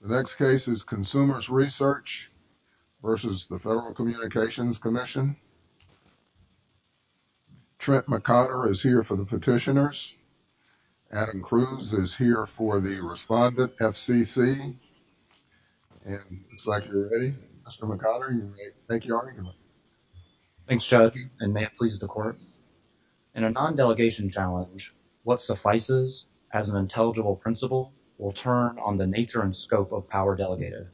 The next case is Consumers' Research v. Federal Communications Commission. Trent McOtter is here for the petitioners. Adam Cruz is here for the respondent, FCC, and it looks like you're ready, Mr. McOtter. Thank you, Adam. Thanks, Judge, and may it please the Court. In a non-delegation challenge, what suffices as an intelligible principle will turn on the nature and scope of power delegated.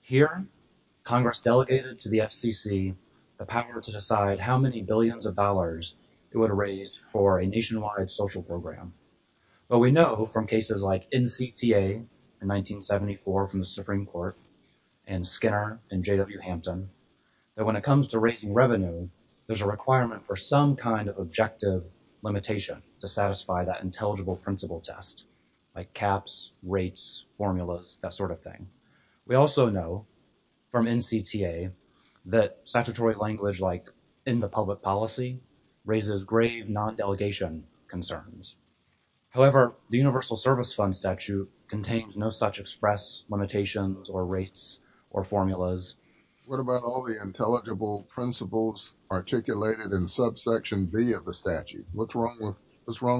Here, Congress delegated to the FCC the power to decide how many billions of dollars it would raise for a nationwide social program. But we know from cases like NCTA in 1974 from the Supreme Court and Skinner in J.W. Hampton that when it comes to raising revenue, there's a requirement for some kind of objective limitation to satisfy that intelligible principle test, like caps, rates, formulas, that sort of thing. We also know from NCTA that statutory language like public policy raises grave non-delegation concerns. However, the Universal Service Fund statute contains no such express limitations or rates or formulas. What about all the intelligible principles articulated in subsection B of the statute? What's wrong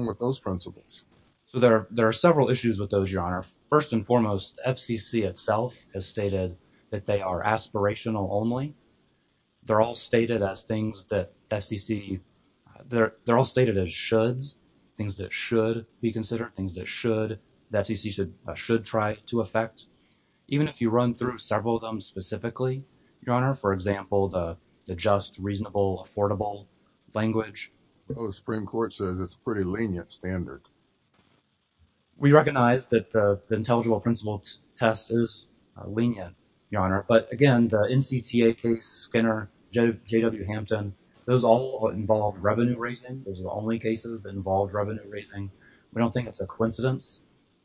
with those principles? So, there are several issues with those, Your Honor. First and foremost, FCC itself has stated that they are aspirational only. They're all stated as things that FCC, they're all stated as shoulds, things that should be considered, things that should, that FCC should try to affect. Even if you run through several of them specifically, Your Honor, for example, the just, reasonable, affordable language. Well, the Supreme Court says it's a pretty lenient standard. We recognize that the intelligible principle test is lenient, Your Honor. But again, the NCTA case, Skinner, J.W. Hampton, those all involved revenue raising. Those are the only cases that involved revenue raising. We don't think it's a coincidence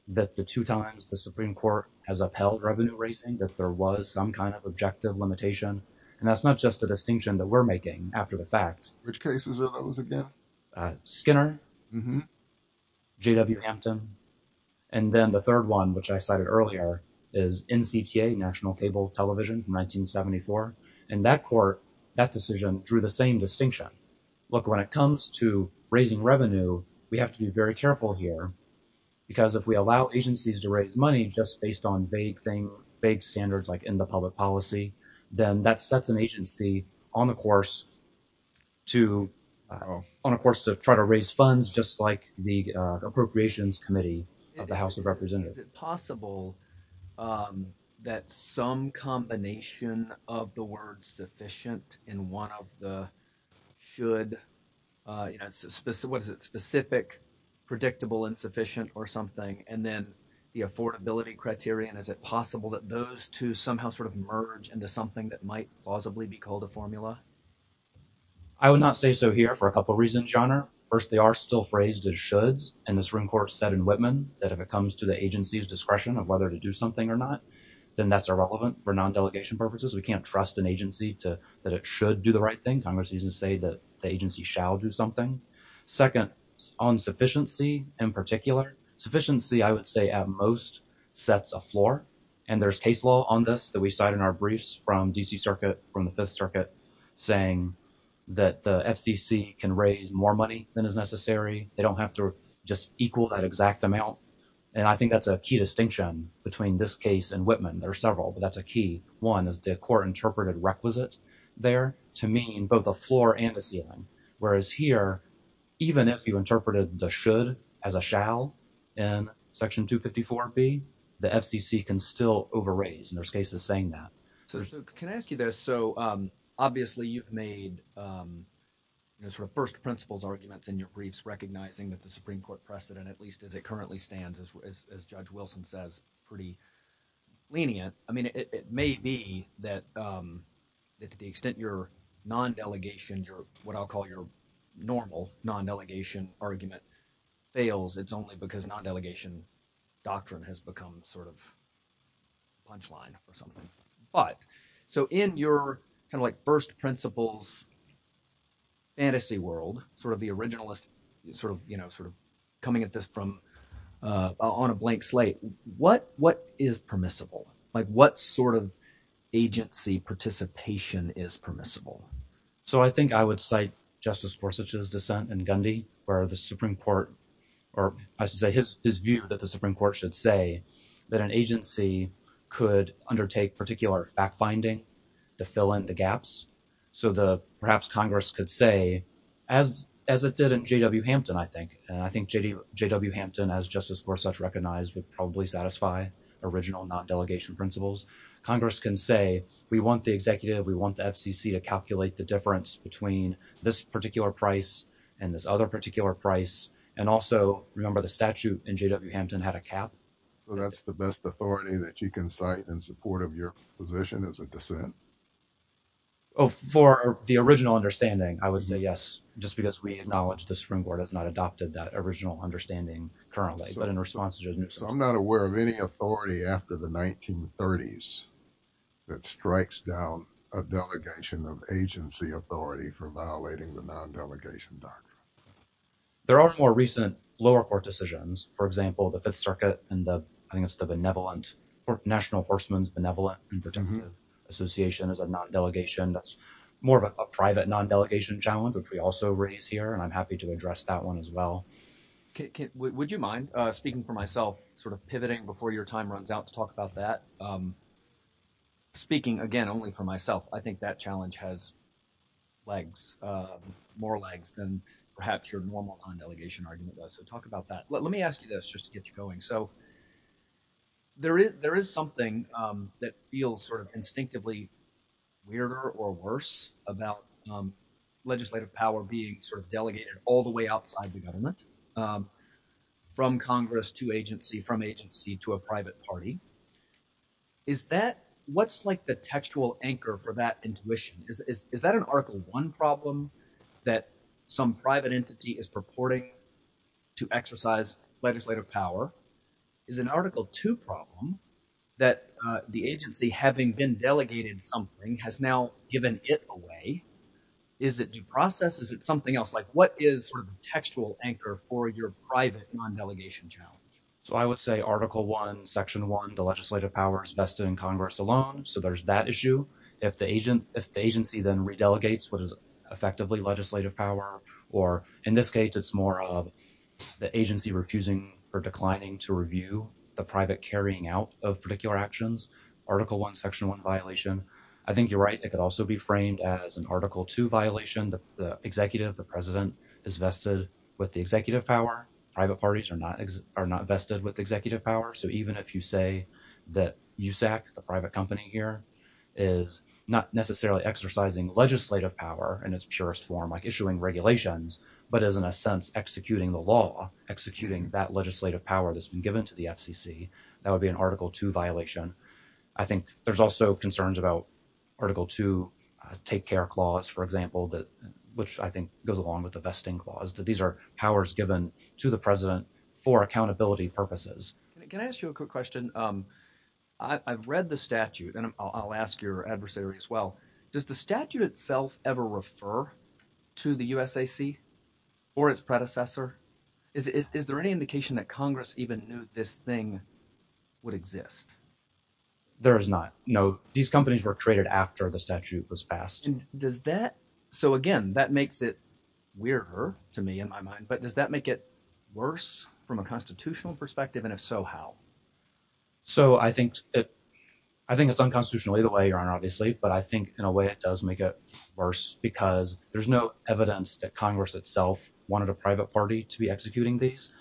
that the two times the Supreme Court has upheld revenue raising, that there was some kind of objective limitation. And that's not just a distinction that we're making after the fact. Which cases are those again? Skinner, J.W. Hampton, and then the third one, which I cited earlier, is NCTA, National Cable Television from 1974. And that court, that decision drew the same distinction. Look, when it comes to raising revenue, we have to be very careful here because if we allow agencies to raise money just based on vague things, vague standards, like in the public policy, then that sets an agency on the course to, on a course to try to raise funds just like the Appropriations Committee of the House of Representatives. Is it possible that some combination of the words sufficient and one of the should, you know, what is it, specific, predictable, insufficient, or something, and then the affordability criterion, is it possible that those two somehow sort of merge into something that might plausibly be called a formula? I would not say so here for a couple reasons, Your Honor. First, they are still phrased as shoulds, and the Supreme Court said in Whitman that if it comes to the agency's discretion of whether to do something or not, then that's irrelevant for non-delegation purposes. We can't trust an agency to, that it should do the right thing. Congress doesn't say that the agency shall do something. Second, on sufficiency in particular, sufficiency, I would say at most, sets a floor, and there's case law on this that we cite in our briefs from D.C. Circuit, from the Fifth Circuit, saying that the FCC can raise more money than is necessary. They don't have to just equal that exact amount, and I think that's a key distinction between this case and Whitman. There are several, but that's a key. One is the court interpreted requisite there to mean both a floor and a ceiling, whereas here, even if you interpreted the should as a shall in Section 254B, the FCC can still over-raise, and there's cases saying that. So can I ask you this? Obviously, you've made sort of first principles arguments in your briefs, recognizing that the Supreme Court precedent, at least as it currently stands, as Judge Wilson says, pretty lenient. I mean, it may be that to the extent your non-delegation, what I'll call your normal non-delegation argument fails, it's only because non-delegation doctrine has become sort of punchline or something. But so in your kind of like first principles fantasy world, sort of the originalist sort of, you know, sort of coming at this from on a blank slate, what is permissible? Like what sort of agency participation is permissible? So I think I would cite Justice Gorsuch's dissent in Gundy, where the Supreme Court, or I should say his view that the Supreme Court should say that an agency could undertake particular fact-finding to fill in the gaps. So perhaps Congress could say, as it did in J.W. Hampton, I think, and I think J.W. Hampton, as Justice Gorsuch recognized, would probably satisfy original non-delegation principles. Congress can say, we want the executive, we want the FCC to calculate the difference between this particular price and this other particular price. And also, remember the statute in J.W. Hampton had a cap. So that's the best authority that you can cite in support of your position as a dissent? Oh, for the original understanding, I would say yes. Just because we acknowledge the Supreme Court has not adopted that original understanding currently. But in response to... So I'm not aware of any authority after the 1930s that strikes down a delegation of agency authority for violating the non-delegation doctrine. There are more recent lower court decisions. For example, the Fifth Circuit and the... I think it's the benevolent, National Horsemen's Benevolent and Protective Association is a non-delegation. That's more of a private non-delegation challenge, which we also raise here. And I'm happy to address that one as well. Would you mind, speaking for myself, sort of pivoting before your time runs out to talk about that? Speaking, again, only for myself, I think that challenge has legs, more legs than perhaps your normal non-delegation argument was. So talk about that. Let me ask you this just to get you going. So there is something that feels sort of instinctively weirder or worse about legislative power being sort of delegated all the way outside the government from Congress to agency, from agency to a private party. Is that... What's like the textual anchor for that intuition? Is that an Article 1 problem that some private entity is purporting to exercise legislative power? Is an Article 2 problem that the agency, having been delegated something, has now given it away? Is it due process? Is it something else? Like what is sort of the textual anchor for your private non-delegation challenge? So I would say Article 1, Section 1, the legislative power is vested in Congress alone. So there's that issue. If the agency then re-delegates what is effectively legislative power, or in this case, it's more of the agency refusing or declining to review the private carrying out of particular actions, Article 1, Section 1 violation. I think you're right. It could also be framed as an Article 2 violation that the executive, the president is vested with the executive power. Private parties are not vested with executive power. So even if you say that USAC, the private company here, is not necessarily exercising legislative power in its purest form, like issuing regulations, but is in a sense executing the law, executing that legislative power that's been given to the FCC, that would be an Article 2 violation. I think there's also concerns about Article 2 take care clause, for example, which I think goes along with the vesting clause, that these are powers given to the president for accountability purposes. Can I ask you a quick question? I've read the statute, and I'll ask your adversary as well. Does the statute itself ever refer to the USAC or its predecessor? Is there any indication that Congress even knew this thing would exist? There is not. No. These companies were created after the statute was passed. So again, that makes it weirder to me in my mind. Does that make it worse from a constitutional perspective, and if so, how? So I think it's unconstitutionally the way, Your Honor, obviously, but I think in a way it does make it worse because there's no evidence that Congress itself wanted a private party to be executing these.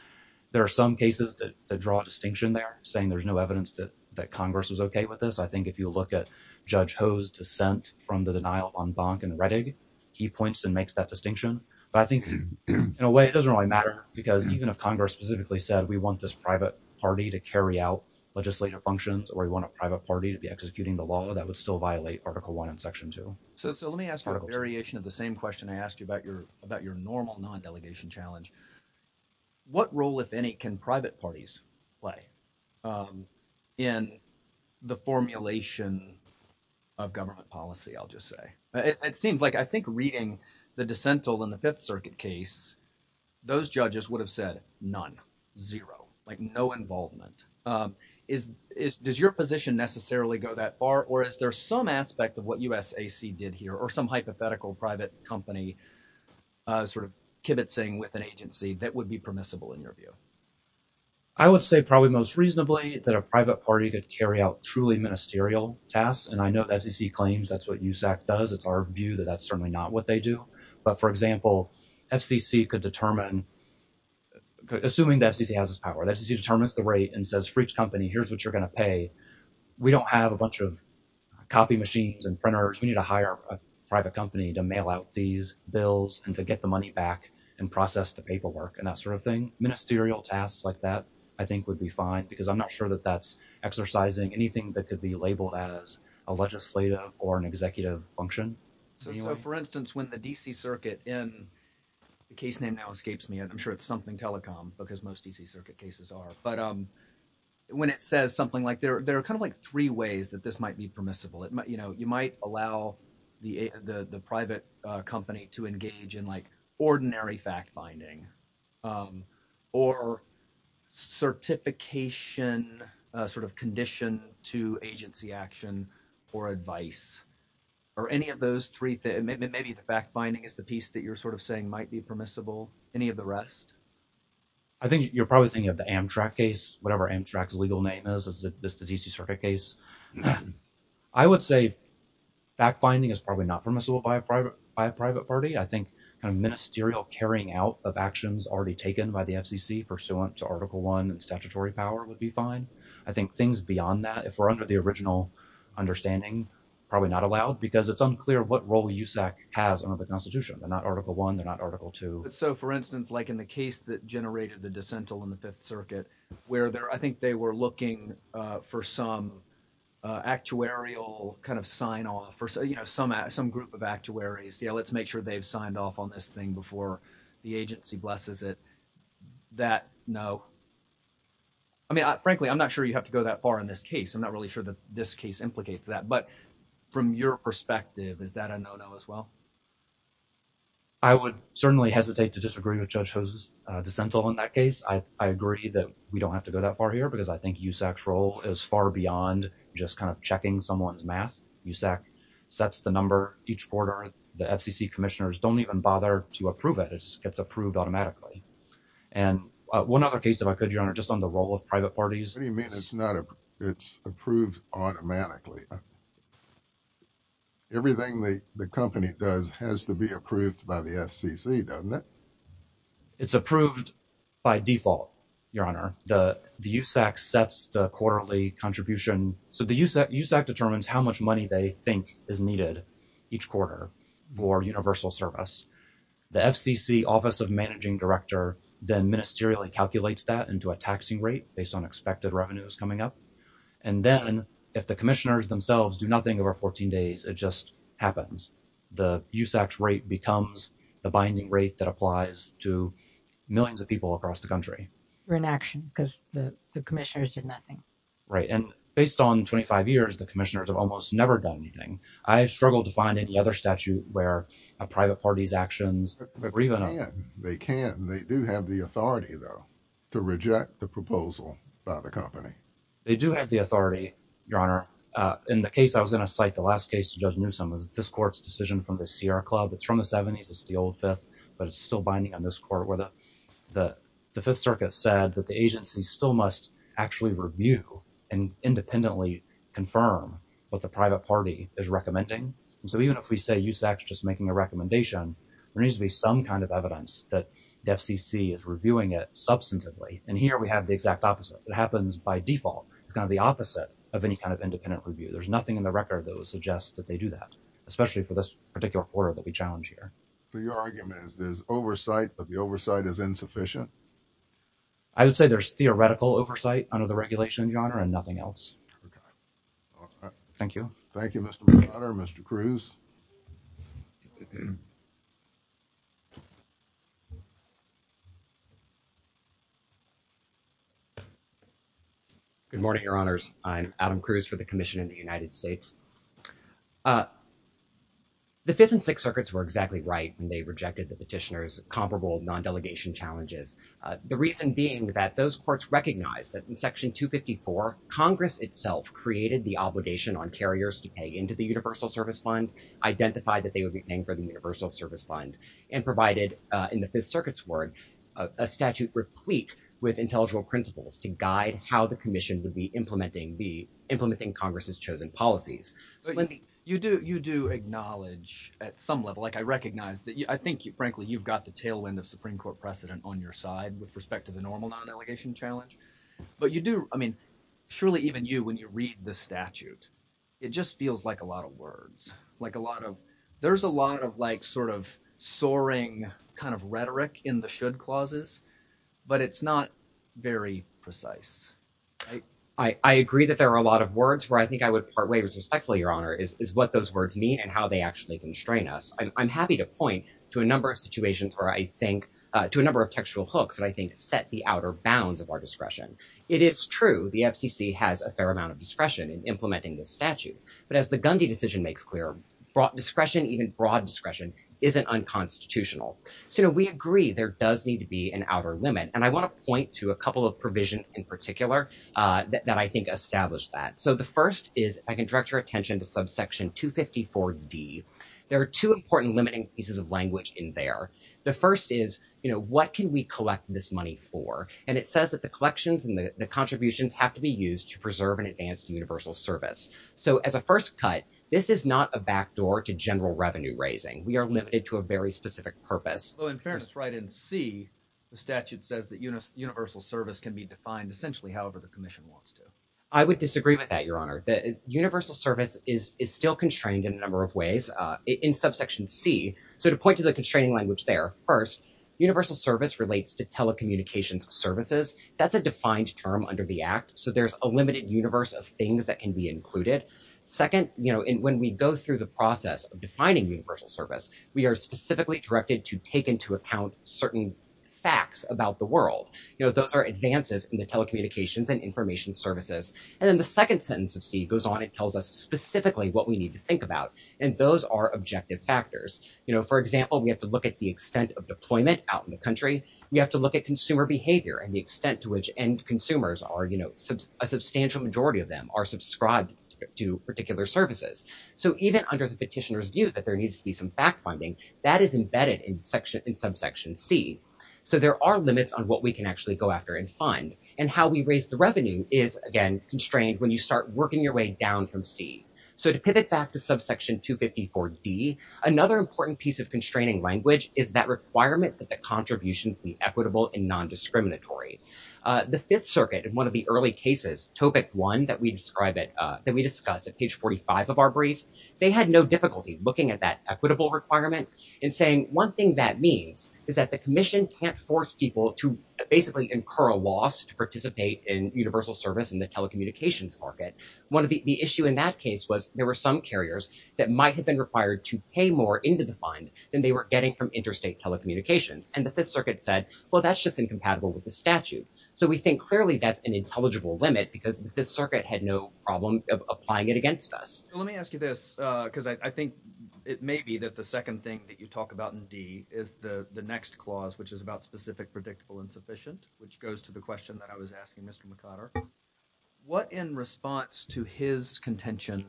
There are some cases that draw a distinction there, saying there's no evidence that Congress was okay with this. I think if you look at Judge Ho's dissent from the denial on Bonk and Rettig, he points and makes that distinction. But I think in a way it doesn't really matter because even if Congress specifically said we want this private party to carry out legislative functions or we want a private party to be executing the law, that would still violate Article I and Section 2. So let me ask a variation of the same question I asked you about your normal non-delegation challenge. What role, if any, can private parties play in the formulation of government policy, I'll just say? It seems like I think reading the dissent in the Fifth Circuit case, those judges would have said none, zero, like no involvement. Does your position necessarily go that far or is there some aspect of what USAC did here or some hypothetical private company sort of kibitzing with an agency that would be permissible in your view? I would say probably most reasonably that a private party could carry out truly ministerial tasks. And I know FCC claims that's what USAC does. It's our view that that's certainly not what they do. But for example, FCC could determine, assuming that FCC has this power, FCC determines the rate and says for each company, here's what you're going to pay. We don't have a bunch of copy machines and printers. We need to hire a private company to mail out these bills and to get the money back and process the paperwork and that sort of thing. Ministerial tasks like that I think would be fine because I'm not sure that that's labeled as a legislative or an executive function. For instance, when the D.C. Circuit in, the case name now escapes me and I'm sure it's something telecom because most D.C. Circuit cases are. But when it says something like there are kind of like three ways that this might be permissible. You might allow the private company to engage in like ordinary fact finding or certification sort of condition to agency action or advice or any of those three. Maybe the fact finding is the piece that you're sort of saying might be permissible. Any of the rest? I think you're probably thinking of the Amtrak case, whatever Amtrak's legal name is, is the D.C. Circuit case. I would say fact finding is probably not permissible by a private party. I think kind of ministerial carrying out of actions already taken by the FCC pursuant to Article 1 and statutory power would be fine. I think things beyond that, if we're under the original understanding, probably not allowed because it's unclear what role USAC has under the Constitution. They're not Article 1. They're not Article 2. So, for instance, like in the case that generated the dissent on the Fifth Circuit, where I think they were looking for some actuarial kind of sign off or some group of actuaries, let's make sure they've signed off on this thing before the agency blesses it. That, no. I mean, frankly, I'm not sure you have to go that far in this case. I'm not really sure that this case implicates that. But from your perspective, is that a no-no as well? I would certainly hesitate to disagree with Judge Jose's dissent on that case. I agree that we don't have to go that far here because I think USAC's role is far beyond just kind of checking someone's math. USAC sets the number each quarter. The FCC commissioners don't even bother to approve it. It gets approved automatically. And one other case, if I could, Your Honor, just on the role of private parties. What do you mean it's approved automatically? Everything the company does has to be approved by the FCC, doesn't it? It's approved by default, Your Honor. The USAC sets the quarterly contribution. So the USAC determines how much money they think is needed each quarter for universal service. The FCC Office of Managing Director then ministerially calculates that into a taxing rate based on expected revenues coming up. And then if the commissioners themselves do nothing over 14 days, it just happens. The USAC's rate becomes the binding rate that applies to millions of people across the country. We're in action because the commissioners did nothing. Right. And based on 25 years, the commissioners have almost never done anything. I have struggled to find any other statute where a private party's actions. They can. They do have the authority, though, to reject the proposal by the company. They do have the authority, Your Honor. In the case I was going to cite, the last case, Judge Newsom, was this court's decision from the Sierra Club. It's from the 70s. It's the old Fifth, but it's still binding on this court where the Fifth Circuit said that the agency still must actually review and independently confirm what the private party is recommending. And so even if we say USAC's just making a recommendation, there needs to be some kind of evidence that the FCC is reviewing it substantively. And here we have the exact opposite. It happens by default. It's kind of the opposite of any kind of independent review. There's nothing in the record that would suggest that they do that, especially for this particular order that we challenge here. So your argument is there's oversight, but the oversight is insufficient? I would say there's theoretical oversight under the regulation, Your Honor, and nothing else. Thank you. Thank you, Mr. McArthur. Mr. Cruz. Good morning, Your Honors. I'm Adam Cruz for the Commission in the United States. The Fifth and Sixth Circuits were exactly right when they rejected the petitioner's comparable non-delegation challenges. The reason being that those courts recognized that in Section 254, Congress itself created the obligation on carriers to pay into the Universal Service Fund, identified that they would be paying for the Universal Service Fund, and provided in the Fifth Circuit's word, a statute replete with intellectual principles to guide how the Commission would be implementing Congress's chosen policies. You do acknowledge at some level, like I recognize that I think, frankly, you've got the tailwind of Supreme Court precedent on your side with respect to the normal non-delegation challenge. But you do, I mean, surely even you, when you read the statute, it just feels like a lot of words, like a lot of, there's a lot of like sort of soaring kind of rhetoric in the should clauses, but it's not very precise. I agree that there are a lot of words where I think I would part ways respectfully, Your Honor, is what those words mean and how they actually constrain us. I'm happy to point to a number of situations where I think, to a number of textual hooks that I think set the outer bounds of our discretion. It is true the FCC has a fair amount of discretion in implementing this statute, but as the Gundy decision makes clear, discretion, even broad discretion, isn't unconstitutional. So we agree there does need to be an outer limit, and I want to point to a couple of provisions in particular that I think establish that. So the first is, if I can direct your attention to subsection 254D, there are two important limiting pieces of language in there. The first is, you know, what can we collect this money for? And it says that the collections and the contributions have to be used to preserve and advance universal service. So as a first cut, this is not a backdoor to general revenue raising. We are limited to a very specific purpose. Well, in fairness, right in C, the statute says that universal service can be defined essentially however the commission wants to. I would disagree with that, Your Honor. The universal service is still constrained in a number of ways in subsection C. So to point to the constraining language there, first, universal service relates to telecommunications services. That's a defined term under the act. So there's a limited universe of things that can be included. Second, you know, when we go through the process of defining universal service, we are specifically directed to take into account certain facts about the world. You know, those are advances in the telecommunications and information services. And then the second sentence of C goes on. It tells us specifically what we need to think about, and those are objective factors. For example, we have to look at the extent of deployment out in the country. We have to look at consumer behavior and the extent to which end consumers are, you know, a substantial majority of them are subscribed to particular services. So even under the petitioner's view that there needs to be some back funding, that is embedded in subsection C. So there are limits on what we can actually go after and fund. And how we raise the revenue is, again, constrained when you start working your way down from C. So to pivot back to subsection 254D, another important piece of constraining language is that requirement that the contributions be equitable and non-discriminatory. The Fifth Circuit, in one of the early cases, topic one that we describe it, that we discussed at page 45 of our brief, they had no difficulty looking at that equitable requirement and saying, one thing that means is that the commission can't force people to basically incur a loss to participate in universal service in the telecommunications market. One of the issue in that case was there were some carriers that might have been required to pay more into the fund than they were getting from interstate telecommunications. And the Fifth Circuit said, well, that's just incompatible with the statute. So we think clearly that's an intelligible limit because the Fifth Circuit had no problem applying it against us. Let me ask you this, because I think it may be that the second thing that you talk about in D is the next clause, which is about specific, predictable, and sufficient, which goes to the question that I was asking Mr. McConner. What in response to his contention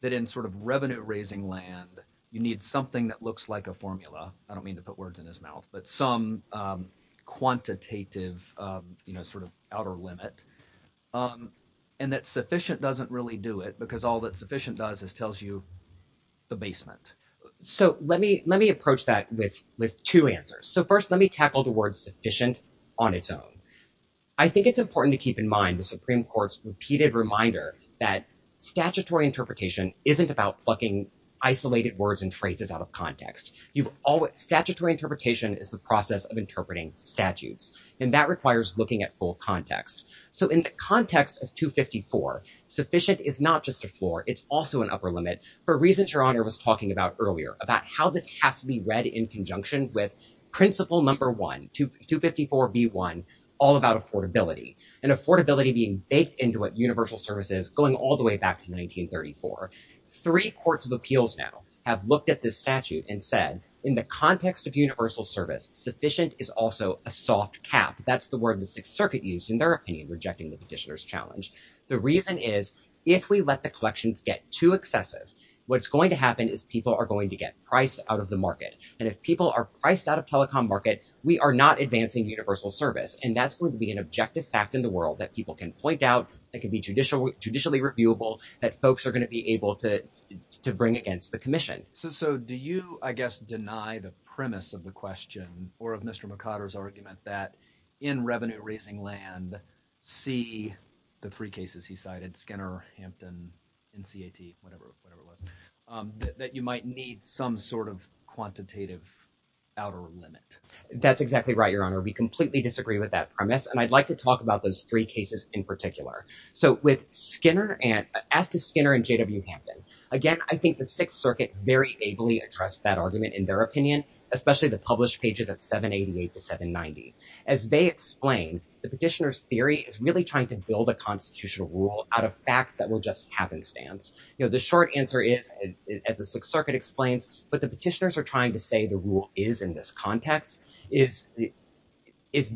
that in sort of revenue raising land, you need something that looks like a formula. I don't mean to put words in his mouth, but some quantitative sort of outer limit. And that sufficient doesn't really do it because all that sufficient does is tells you the basement. So let me approach that with two answers. So first, let me tackle the word sufficient on its own. I think it's important to keep in mind the Supreme Court's repeated reminder that statutory interpretation isn't about plucking isolated words and phrases out of context. Statutory interpretation is the process of interpreting statutes, and that requires looking at full context. So in the context of 254, sufficient is not just a floor. It's also an upper limit. For reasons Your Honor was talking about earlier, about how this has to be read in all about affordability. And affordability being baked into what universal service is going all the way back to 1934. Three courts of appeals now have looked at this statute and said, in the context of universal service, sufficient is also a soft cap. That's the word the Sixth Circuit used in their opinion, rejecting the petitioner's challenge. The reason is, if we let the collections get too excessive, what's going to happen is people are going to get priced out of the market. And if people are priced out of telecom market, we are not advancing universal service. And that's going to be an objective fact in the world that people can point out, that can be judicially reviewable, that folks are going to be able to bring against the commission. So do you, I guess, deny the premise of the question or of Mr. McCotter's argument that in revenue raising land, see the three cases he cited, Skinner, Hampton, NCAT, whatever it was, that you might need some sort of quantitative outer limit? That's exactly right, Your Honor. We completely disagree with that premise. And I'd like to talk about those three cases in particular. So with Skinner and, as to Skinner and J.W. Hampton, again, I think the Sixth Circuit very ably addressed that argument in their opinion, especially the published pages at 788 to 790. As they explain, the petitioner's theory is really trying to build a constitutional rule out of facts that will just happenstance. The short answer is, as the Sixth Circuit explains, what the petitioners are trying to say the rule is in this context is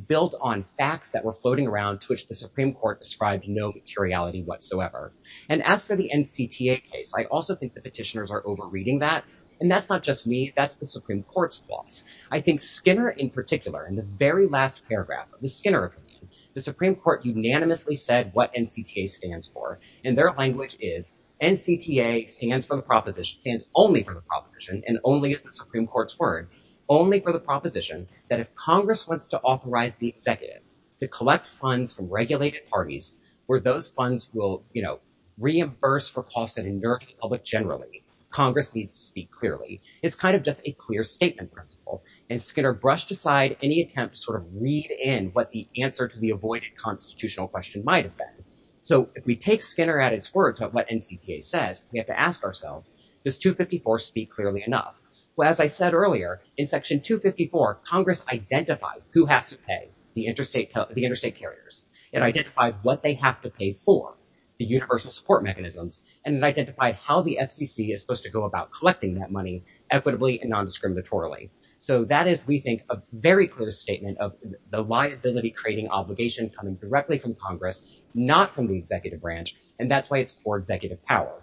built on facts that were floating around to which the Supreme Court described no materiality whatsoever. And as for the NCTA case, I also think the petitioners are overreading that. And that's not just me. That's the Supreme Court's thoughts. I think Skinner in particular, in the very last paragraph of the Skinner opinion, the Supreme Court unanimously said what NCTA stands for. And their language is, NCTA stands for the proposition, stands only for the proposition, and only is the Supreme Court's word, only for the proposition that if Congress wants to authorize the executive to collect funds from regulated parties, where those funds will, you know, reimburse for costs that injure the public generally, Congress needs to speak clearly. It's kind of just a clear statement principle. And Skinner brushed aside any attempt to sort of read in what the answer to the avoided constitutional question might have been. So if we take Skinner at his words about what NCTA says, we have to ask ourselves, does Section 254 speak clearly enough? Well, as I said earlier, in Section 254, Congress identified who has to pay the interstate carriers. It identified what they have to pay for, the universal support mechanisms, and it identified how the FCC is supposed to go about collecting that money equitably and nondiscriminatorily. So that is, we think, a very clear statement of the liability-creating obligation coming directly from Congress, not from the executive branch. And that's why it's for executive power.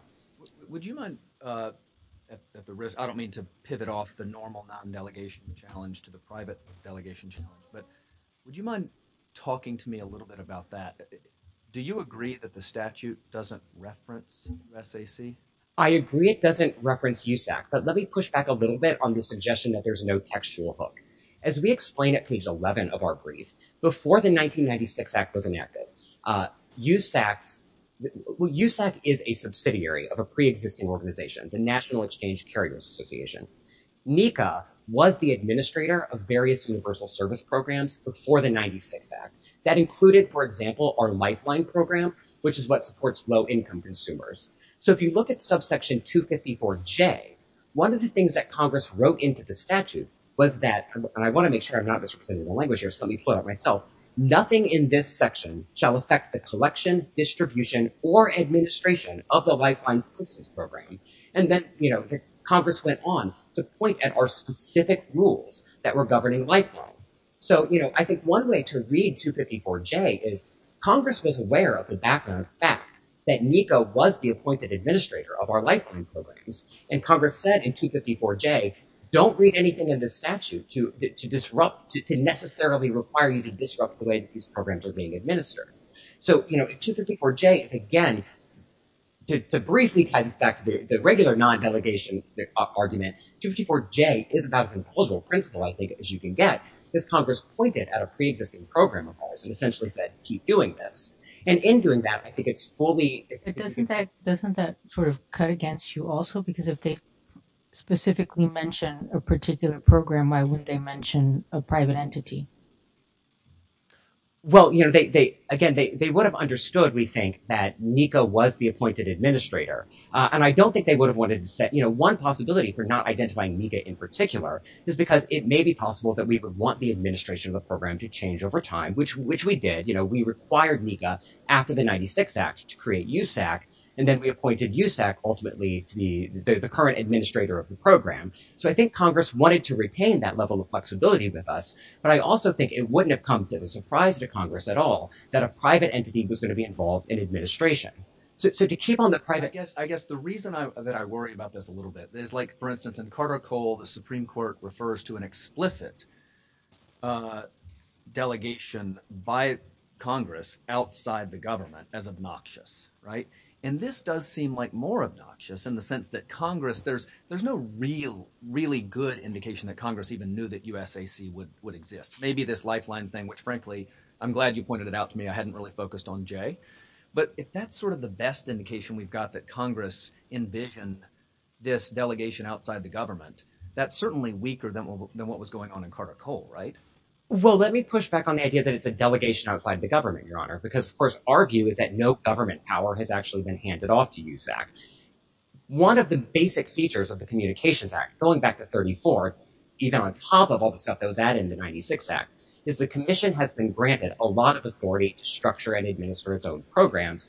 Would you mind, at the risk, I don't mean to pivot off the normal non-delegation challenge to the private delegation challenge, but would you mind talking to me a little bit about that? Do you agree that the statute doesn't reference USAC? I agree it doesn't reference USAC, but let me push back a little bit on the suggestion that there's no textual hook. As we explain at page 11 of our brief, before the 1996 Act was enacted, USAC is a subsidiary. of a pre-existing organization, the National Exchange Carriers Association. NECA was the administrator of various universal service programs before the 1996 Act. That included, for example, our Lifeline program, which is what supports low-income consumers. So if you look at subsection 254J, one of the things that Congress wrote into the statute was that, and I want to make sure I'm not misrepresenting the language here, so let me put it myself, nothing in this section shall affect the collection, distribution, or administration of the Lifeline Assistance Program. And then Congress went on to point at our specific rules that were governing Lifeline. So I think one way to read 254J is Congress was aware of the background fact that NECA was the appointed administrator of our Lifeline programs, and Congress said in 254J, don't read anything in the statute to disrupt, to necessarily require you to disrupt the way these programs are being administered. So, you know, 254J is, again, to briefly tie this back to the regular non-delegation argument, 254J is about as implausible a principle, I think, as you can get, because Congress pointed at a pre-existing program of ours and essentially said, keep doing this. And in doing that, I think it's fully... But doesn't that sort of cut against you also? Because if they specifically mention a particular program, why wouldn't they mention a private entity? Well, you know, again, they would have understood, we think, that NECA was the appointed administrator. And I don't think they would have wanted to set... You know, one possibility for not identifying NECA in particular is because it may be possible that we would want the administration of the program to change over time, which we did. You know, we required NECA after the 96 Act to create USAC, and then we appointed USAC ultimately to be the current administrator of the program. So I think Congress wanted to retain that level of flexibility with us. But I also think it wouldn't have come as a surprise to Congress at all that a private entity was going to be involved in administration. So to keep on the private... I guess the reason that I worry about this a little bit is like, for instance, in Carter Cole, the Supreme Court refers to an explicit delegation by Congress outside the government as obnoxious, right? And this does seem like more obnoxious in the sense that Congress... There's no real, really good indication that Congress even knew that USAC would exist. Maybe this lifeline thing, which frankly, I'm glad you pointed it out to me. I hadn't really focused on Jay. But if that's sort of the best indication we've got that Congress envisioned this delegation outside the government, that's certainly weaker than what was going on in Carter Cole, right? Well, let me push back on the idea that it's a delegation outside the government, Your Honor, because of course, our view is that no government power has actually been handed off to USAC. One of the basic features of the Communications Act, going back to 34, even on top of all the stuff that was added in the 96 Act, is the commission has been granted a lot of authority to structure and administer its own programs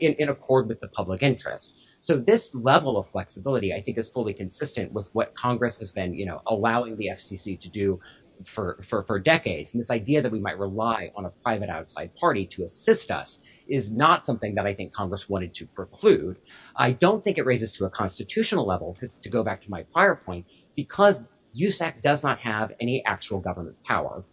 in accord with the public interest. So this level of flexibility, I think, is fully consistent with what Congress has been allowing the FCC to do for decades. And this idea that we might rely on a private outside party to assist us is not something that I think Congress wanted to preclude. I don't think it raises to a constitutional level, to go back to my prior point, because USAC does not have any actual government power.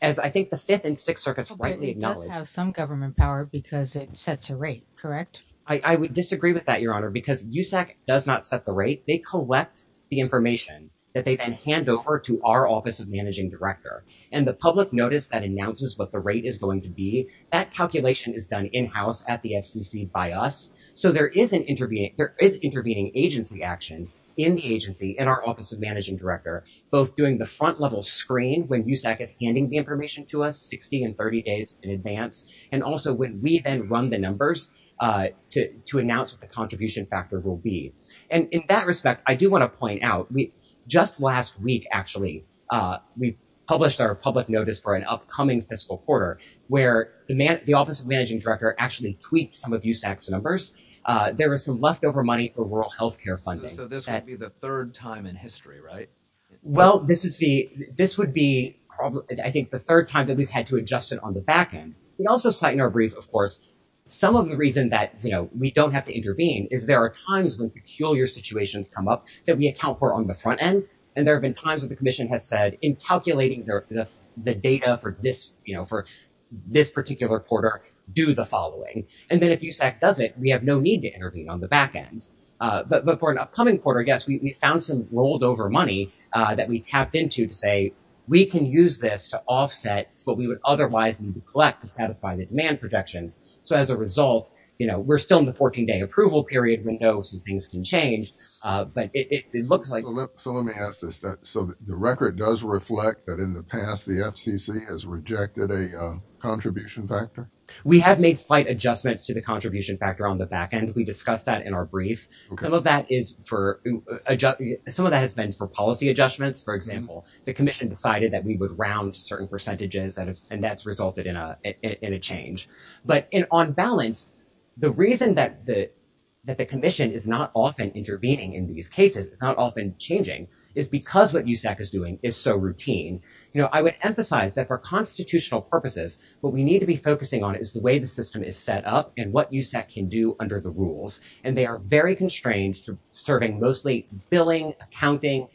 As I think the Fifth and Sixth Circuits rightly acknowledge. It does have some government power because it sets a rate, correct? I would disagree with that, Your Honor, because USAC does not set the rate. They collect the information that they then hand over to our Office of Managing Director. And the public notice that announces what the rate is going to be, that calculation is done in-house at the FCC by us. So there is intervening agency action in the agency and our Office of Managing Director, both doing the front level screen when USAC is handing the information to us 60 and 30 days in advance, and also when we then run the numbers to announce what the contribution factor will be. And in that respect, I do want to point out, just last week, actually, we published our actually tweaked some of USAC's numbers. There was some leftover money for rural health care funding. So this would be the third time in history, right? Well, this would be, I think, the third time that we've had to adjust it on the back end. We also cite in our brief, of course, some of the reason that we don't have to intervene is there are times when peculiar situations come up that we account for on the front end. And there have been times that the commission has said, in calculating the data for this particular quarter, do the following. And then if USAC does it, we have no need to intervene on the back end. But for an upcoming quarter, I guess, we found some rolled over money that we tapped into to say, we can use this to offset what we would otherwise need to collect to satisfy the demand projections. So as a result, we're still in the 14-day approval period. We know some things can change. But it looks like- So let me ask this. So the record does reflect that in the past, the FCC has rejected a contribution factor? We have made slight adjustments to the contribution factor on the back end. We discussed that in our brief. Some of that has been for policy adjustments. For example, the commission decided that we would round certain percentages, and that's resulted in a change. But on balance, the reason that the commission is not often intervening in these cases, it's because what USAC is doing is so routine. I would emphasize that for constitutional purposes, what we need to be focusing on is the way the system is set up and what USAC can do under the rules. And they are very constrained to serving mostly billing, accounting,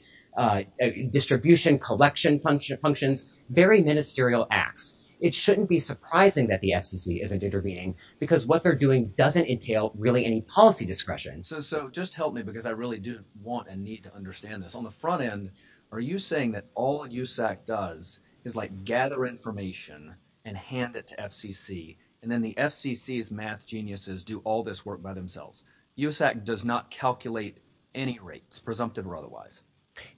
distribution, collection functions, very ministerial acts. It shouldn't be surprising that the FCC isn't intervening because what they're doing doesn't entail really any policy discretion. So just help me because I really do want and need to understand this. On the front end, are you saying that all USAC does is gather information and hand it to FCC, and then the FCC's math geniuses do all this work by themselves? USAC does not calculate any rates, presumptive or otherwise.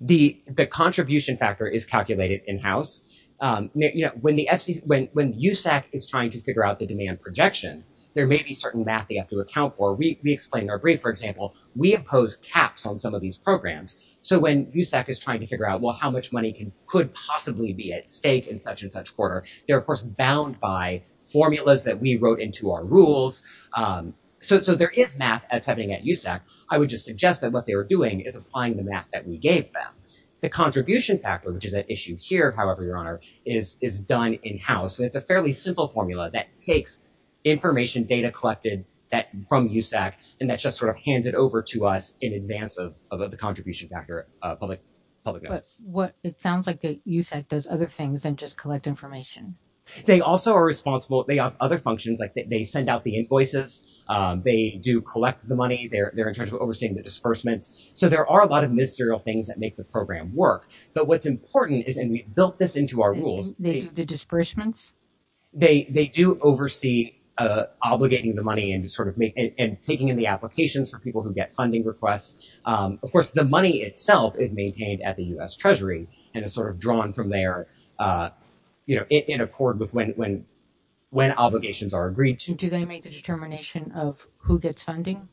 The contribution factor is calculated in-house. When USAC is trying to figure out the demand projections, there may be certain math they have to account for. We explained in our brief, for example, we impose caps on some of these programs. So when USAC is trying to figure out, well, how much money could possibly be at stake in such and such quarter, they're, of course, bound by formulas that we wrote into our rules. So there is math attempting at USAC. I would just suggest that what they were doing is applying the math that we gave them. The contribution factor, which is at issue here, however, Your Honor, is done in-house. And it's a fairly simple formula that takes information data collected from USAC, and just sort of hand it over to us in advance of the contribution factor. It sounds like USAC does other things than just collect information. They also are responsible. They have other functions. They send out the invoices. They do collect the money. They're in charge of overseeing the disbursements. So there are a lot of ministerial things that make the program work. But what's important is, and we built this into our rules. They do the disbursements? They do oversee obligating the money and taking in the applications for people who get funding requests. Of course, the money itself is maintained at the US Treasury and is sort of drawn from there in accord with when obligations are agreed to. Do they make the determination of who gets funding?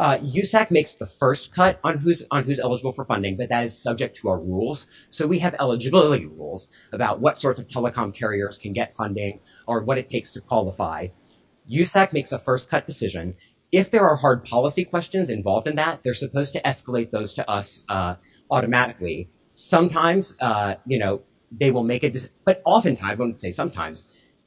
USAC makes the first cut on who's eligible for funding, but that is subject to our rules. So we have eligibility rules about what sorts of telecom carriers can get funding or what it takes to qualify. USAC makes a first cut decision. If there are hard policy questions involved in that, they're supposed to escalate those to us automatically. Sometimes they will make a decision, but oftentimes, I wouldn't say sometimes,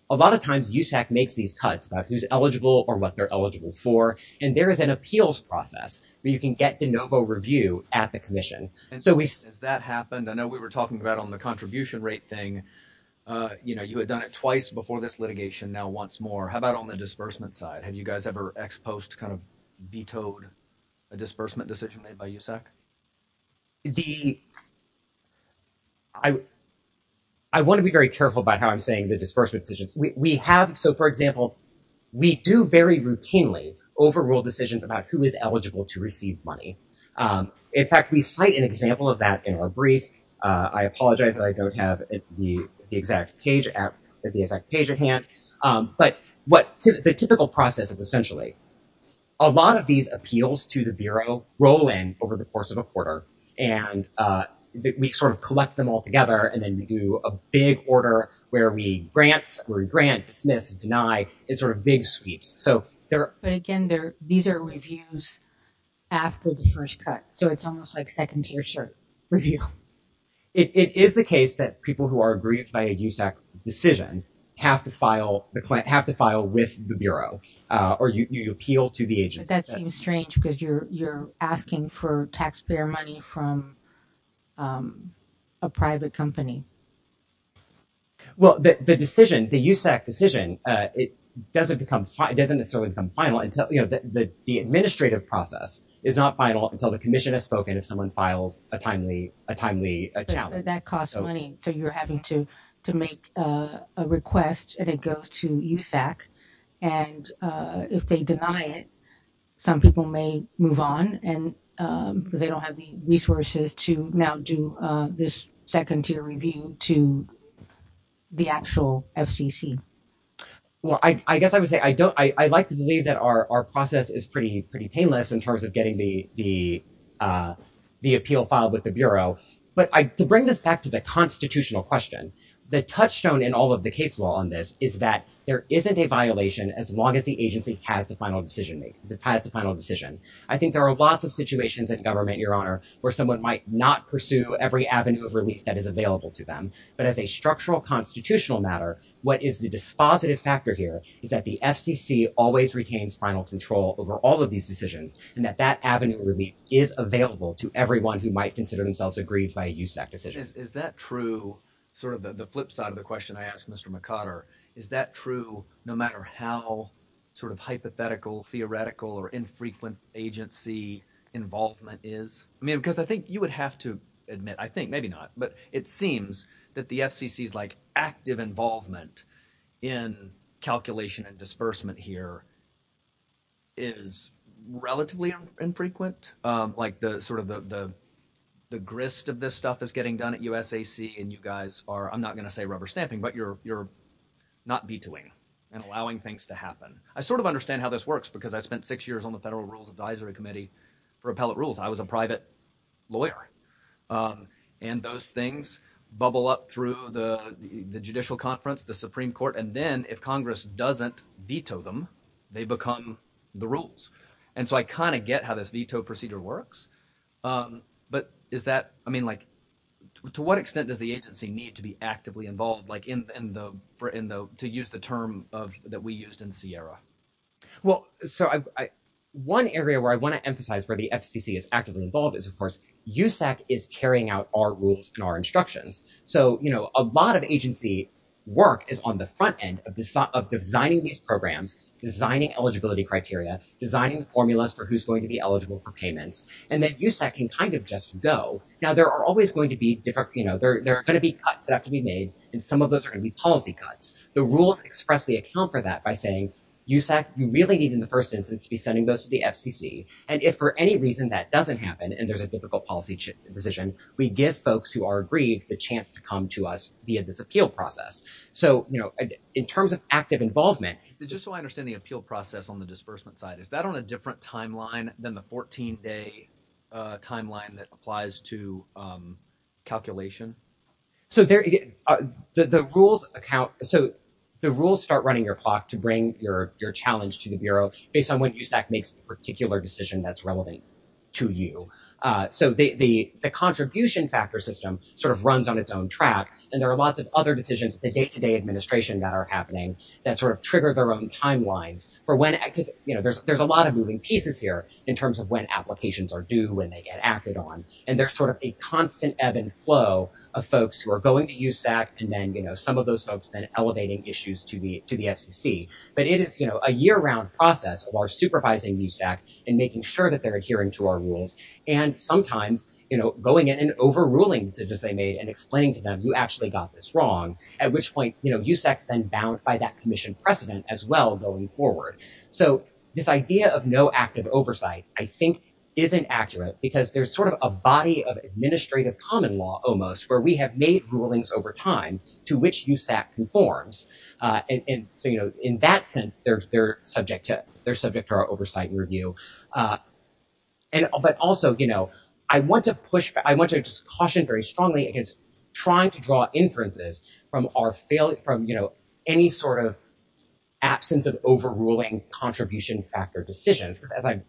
a lot of times USAC makes these cuts about who's eligible or what they're eligible for. And there is an appeals process where you can get de novo review at the commission. Has that happened? I know we were talking about on the contribution rate thing. You had done it twice before this litigation, now once more. How about on the disbursement side? Have you guys ever ex post kind of vetoed a disbursement decision made by USAC? I want to be very careful about how I'm saying the disbursement decision. So for example, we do very routinely overrule decisions about who is eligible to receive money. In fact, we cite an example of that in our brief. I apologize that I don't have the exact page at hand, but the typical process is essentially a lot of these appeals to the Bureau roll in over the course of a quarter, and we sort of collect them all together. And then we do a big order where we grant, dismiss, and deny in sort of big sweeps. But again, these are reviews after the first cut. So it's almost like second tier review. It is the case that people who are aggrieved by a USAC decision have to file with the Bureau or you appeal to the agency. That seems strange because you're asking for taxpayer money from a private company. Well, the decision, the USAC decision, it doesn't necessarily become final until, you know, the administrative process is not final until the commission has spoken if someone files a timely challenge. But that costs money. So you're having to make a request and it goes to USAC. And if they deny it, some people may move on because they don't have the resources to now do this second tier review to the actual FCC. Well, I guess I would say I don't, I like to believe that our process is pretty painless in terms of getting the appeal filed with the Bureau. But to bring this back to the constitutional question, the touchstone in all of the case law on this is that there isn't a violation as long as the agency has the final decision, has the final decision. I think there are lots of situations in government, Your Honor, where someone might not pursue every avenue of relief that is available to them. But as a structural constitutional matter, what is the dispositive factor here is that the FCC always retains final control over all of these decisions and that that avenue of relief is available to everyone who might consider themselves aggrieved by a USAC decision. Is that true, sort of the flip side of the question I asked Mr. McConner, is that true no matter how sort of hypothetical, theoretical or infrequent agency involvement is? Because I think you would have to admit, I think, maybe not, but it seems that the FCC's like active involvement in calculation and disbursement here is relatively infrequent. Like the sort of the grist of this stuff is getting done at USAC and you guys are, I'm not going to say rubber stamping, but you're not vetoing and allowing things to happen. I sort of understand how this works because I spent six years on the Federal Rules Advisory Committee for appellate rules. I was a private lawyer. And those things bubble up through the judicial conference, the Supreme Court. And then if Congress doesn't veto them, they become the rules. And so I kind of get how this veto procedure works. But is that, I mean, like to what extent does the agency need to be actively involved, like in the, to use the term that we used in Sierra? Well, so I, one area where I want to emphasize where the FCC is actively involved is of course, USAC is carrying out our rules and our instructions. So, you know, a lot of agency work is on the front end of designing these programs, designing eligibility criteria, designing the formulas for who's going to be eligible for payments. And then USAC can kind of just go. Now there are always going to be different, you know, there are going to be cuts that have to be made. And some of those are going to be policy cuts. The rules express the account for that by saying, USAC, you really need in the first instance to be sending those to the FCC. And if for any reason that doesn't happen, and there's a difficult policy decision, we give folks who are aggrieved the chance to come to us via this appeal process. So, you know, in terms of active involvement. Just so I understand the appeal process on the disbursement side, is that on a different timeline than the 14 day timeline that applies to calculation? So the rules start running your clock to bring your challenge to the Bureau based on when USAC makes the particular decision that's relevant to you. So the contribution factor system sort of runs on its own track. And there are lots of other decisions, the day-to-day administration that are happening that sort of trigger their own timelines. There's a lot of moving pieces here in terms of when applications are due, when they get acted on. And there's sort of a constant ebb and flow of folks who are going to USAC and then, you know, some of those folks then elevating issues to the FCC. But it is, you know, a year round process of our supervising USAC and making sure that they're adhering to our rules. And sometimes, you know, going in and overruling decisions they made and explaining to them, you actually got this wrong. At which point, you know, USAC's then bound by that commission precedent as well going forward. So this idea of no active oversight, I think, isn't accurate because there's sort of a body of administrative common law almost where we have made rulings over time to which USAC conforms. And so, you know, in that sense, they're subject to our oversight and review. But also, you know, I want to push, I want to just caution very strongly against trying to draw inferences from our failure, from, you know, any sort of absence of overruling contribution factor decisions. Because as I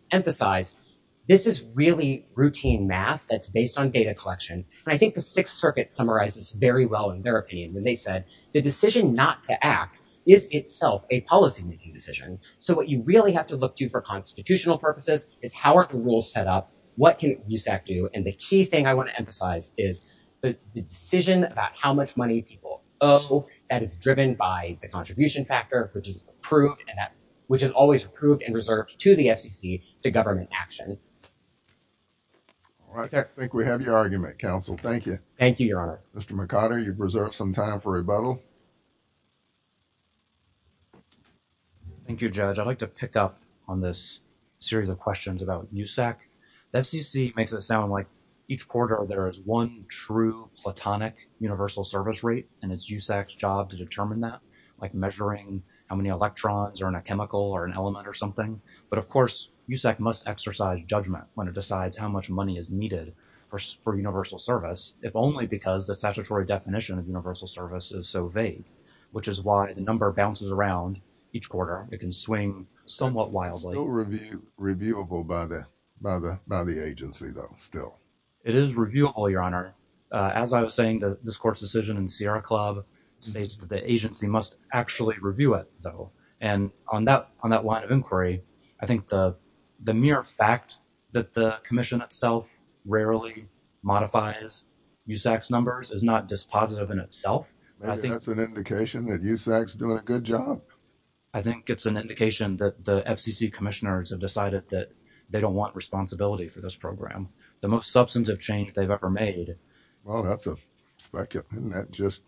think the Sixth Circuit summarizes very well in their opinion when they said, the decision not to act is itself a policymaking decision. So what you really have to look to for constitutional purposes is how are the rules set up? What can USAC do? And the key thing I want to emphasize is the decision about how much money people owe that is driven by the contribution factor, which is approved and that which is always approved and reserved to the FCC, to government action. All right. I think we have your argument, counsel. Thank you. Thank you, Your Honor. Mr. McCotter, you've reserved some time for rebuttal. Thank you, Judge. I'd like to pick up on this series of questions about USAC. The FCC makes it sound like each quarter there is one true platonic universal service rate and it's USAC's job to determine that, like measuring how many electrons are in a chemical or an element or USAC must exercise judgment when it decides how much money is needed for universal service, if only because the statutory definition of universal service is so vague, which is why the number bounces around each quarter. It can swing somewhat wildly. It's still reviewable by the agency, though, still. It is reviewable, Your Honor. As I was saying, this court's decision in Sierra Club states that the agency must actually review it, though. And on that line of inquiry, I think the mere fact that the commission itself rarely modifies USAC's numbers is not dispositive in itself. Maybe that's an indication that USAC's doing a good job. I think it's an indication that the FCC commissioners have decided that they don't want responsibility for this program. The most substantive change they've ever made. Well, isn't that just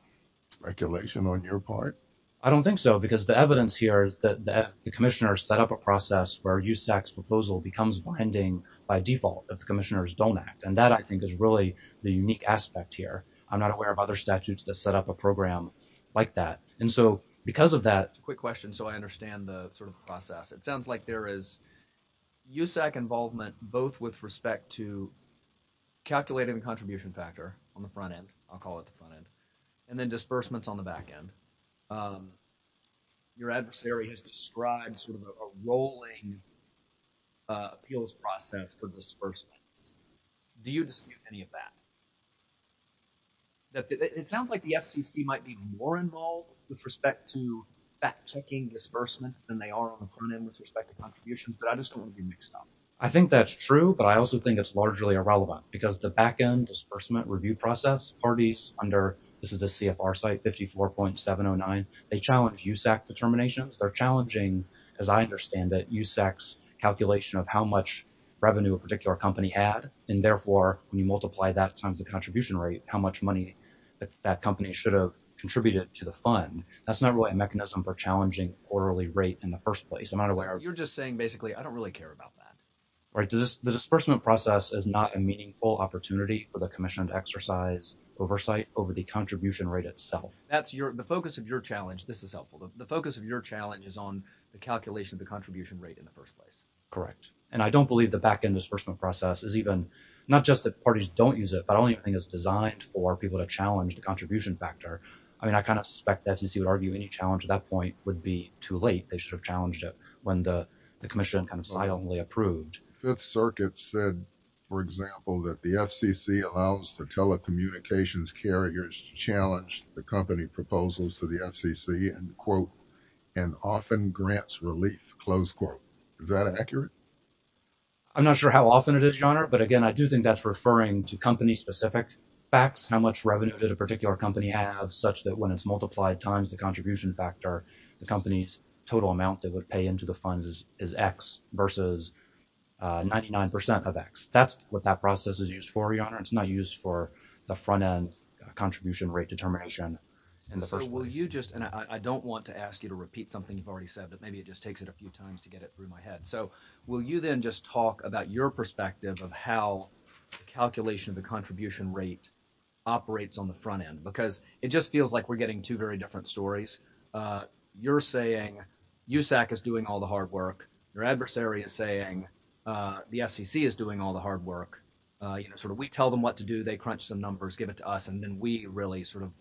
speculation on your part? I don't think so, because the evidence here is that the commissioners set up a process where USAC's proposal becomes binding by default if the commissioners don't act. And that, I think, is really the unique aspect here. I'm not aware of other statutes that set up a program like that. And so, because of that... It's a quick question so I understand the sort of process. It sounds like there is USAC involvement both with respect to calculating the contribution factor on the front end, I'll call it the front end, and then disbursements on the back end. Your adversary has described sort of a rolling appeals process for disbursements. Do you dispute any of that? It sounds like the FCC might be more involved with respect to fact-checking disbursements than they are on the front end with respect to contributions, but I just don't want to be mixed up. I think that's true, but I also think it's largely irrelevant because the back-end review process parties under... This is the CFR site, 54.709. They challenge USAC determinations. They're challenging, as I understand it, USAC's calculation of how much revenue a particular company had, and therefore, when you multiply that times the contribution rate, how much money that company should have contributed to the fund. That's not really a mechanism for challenging quarterly rate in the first place. I'm not aware... You're just saying, basically, I don't really care about that. Right. The disbursement process is not a meaningful opportunity for the Commission to exercise oversight over the contribution rate itself. That's your... The focus of your challenge... This is helpful. The focus of your challenge is on the calculation of the contribution rate in the first place. Correct, and I don't believe the back-end disbursement process is even... Not just that parties don't use it, but I don't even think it's designed for people to challenge the contribution factor. I mean, I kind of suspect the FCC would argue any challenge at that point would be too late. They should have challenged it when the Commission kind of silently approved. Fifth Circuit said, for example, that the FCC allows the telecommunications carriers to challenge the company proposals to the FCC, and quote, and often grants relief, close quote. Is that accurate? I'm not sure how often it is, Your Honor, but again, I do think that's referring to company-specific facts, how much revenue did a particular company have, such that when it's multiplied times the company's total amount they would pay into the funds is X versus 99% of X. That's what that process is used for, Your Honor. It's not used for the front-end contribution rate determination in the first place. And so, will you just... And I don't want to ask you to repeat something you've already said, but maybe it just takes it a few times to get it through my head. So, will you then just talk about your perspective of how the calculation of the contribution rate operates on the front-end? Because it just feels like we're two very different stories. You're saying USAC is doing all the hard work. Your adversary is saying the FCC is doing all the hard work. We tell them what to do. They crunch some numbers, give it to us, and then we really sort of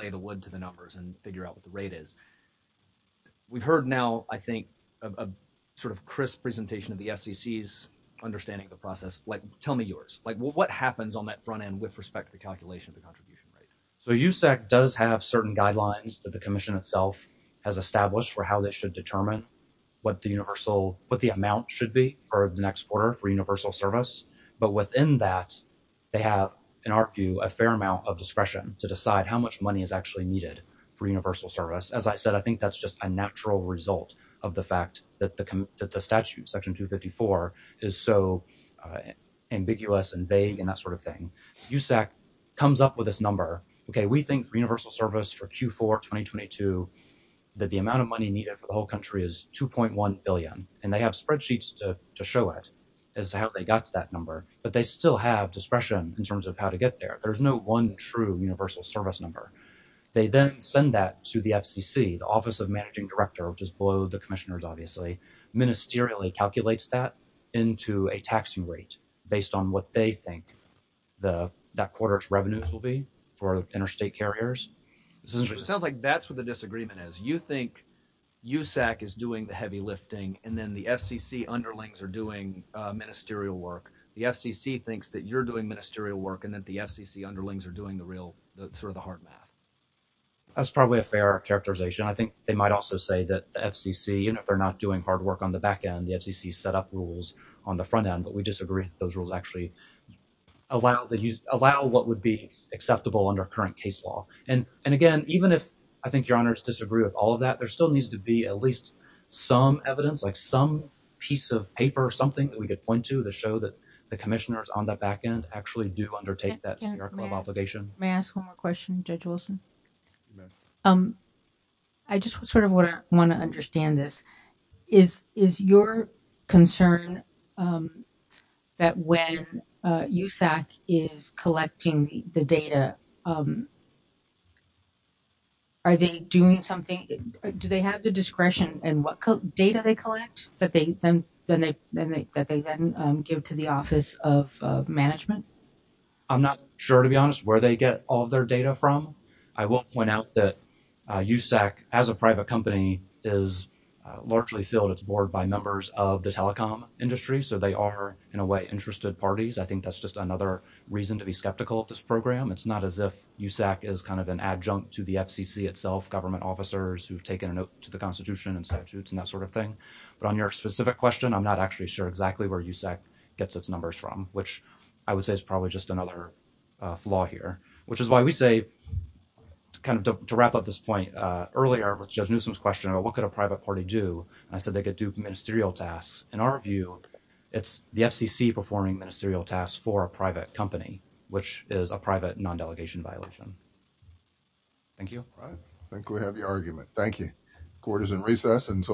lay the wood to the numbers and figure out what the rate is. We've heard now, I think, a sort of crisp presentation of the FCC's understanding of the process. Tell me yours. What happens on that front-end with respect to the calculation of USAC? So, USAC does have certain guidelines that the Commission itself has established for how they should determine what the amount should be for the next quarter for universal service. But within that, they have, in our view, a fair amount of discretion to decide how much money is actually needed for universal service. As I said, I think that's just a natural result of the fact that the statute, Section 254, is so ambiguous and vague and that sort of thing. USAC comes up with this number. Okay, we think for universal service for Q4 2022 that the amount of money needed for the whole country is $2.1 billion, and they have spreadsheets to show it as to how they got to that number. But they still have discretion in terms of how to get there. There's no one true universal service number. They then send that to the FCC, the Office of Managing Director, which is below the Commissioners, obviously, ministerially calculates that into a taxing rate based on what they think that quarter's revenues will be for interstate carriers. Sounds like that's what the disagreement is. You think USAC is doing the heavy lifting, and then the FCC underlings are doing ministerial work. The FCC thinks that you're doing ministerial work and that the FCC underlings are doing the real, sort of the hard math. That's probably a fair characterization. I think they might also say that the FCC, even if they're not doing hard work on the back end, the FCC set up rules on the front end, but we disagree that those rules actually allow what would be acceptable under current case law. And again, even if I think your honors disagree with all of that, there still needs to be at least some evidence, like some piece of paper or something that we could point to to show that the Commissioners on the back end actually do undertake that obligation. May I ask one more question, Judge Wilson? Yes. I just sort of want to understand this. Is your concern that when USAC is collecting the data, are they doing something? Do they have the discretion in what data they collect that they then give to the Office of Management? I'm not sure, to be honest, where they get all of their data from. I will point out that USAC, as a private company, is largely filled its board by members of the telecom industry, so they are, in a way, interested parties. I think that's just another reason to be skeptical of this program. It's not as if USAC is kind of an adjunct to the FCC itself, government officers who've taken a note to the Constitution and statutes and that sort of thing. But on your specific question, I'm not actually sure exactly where USAC gets its numbers from, which I would say is probably just another flaw here, which is why we say, kind of to wrap up this point earlier with Judge Newsom's question about what could a private party do, and I said they could do ministerial tasks. In our view, it's the FCC performing ministerial tasks for a private company, which is a private non-delegation violation. Thank you. I think we have your argument. Thank you. Court is in recess until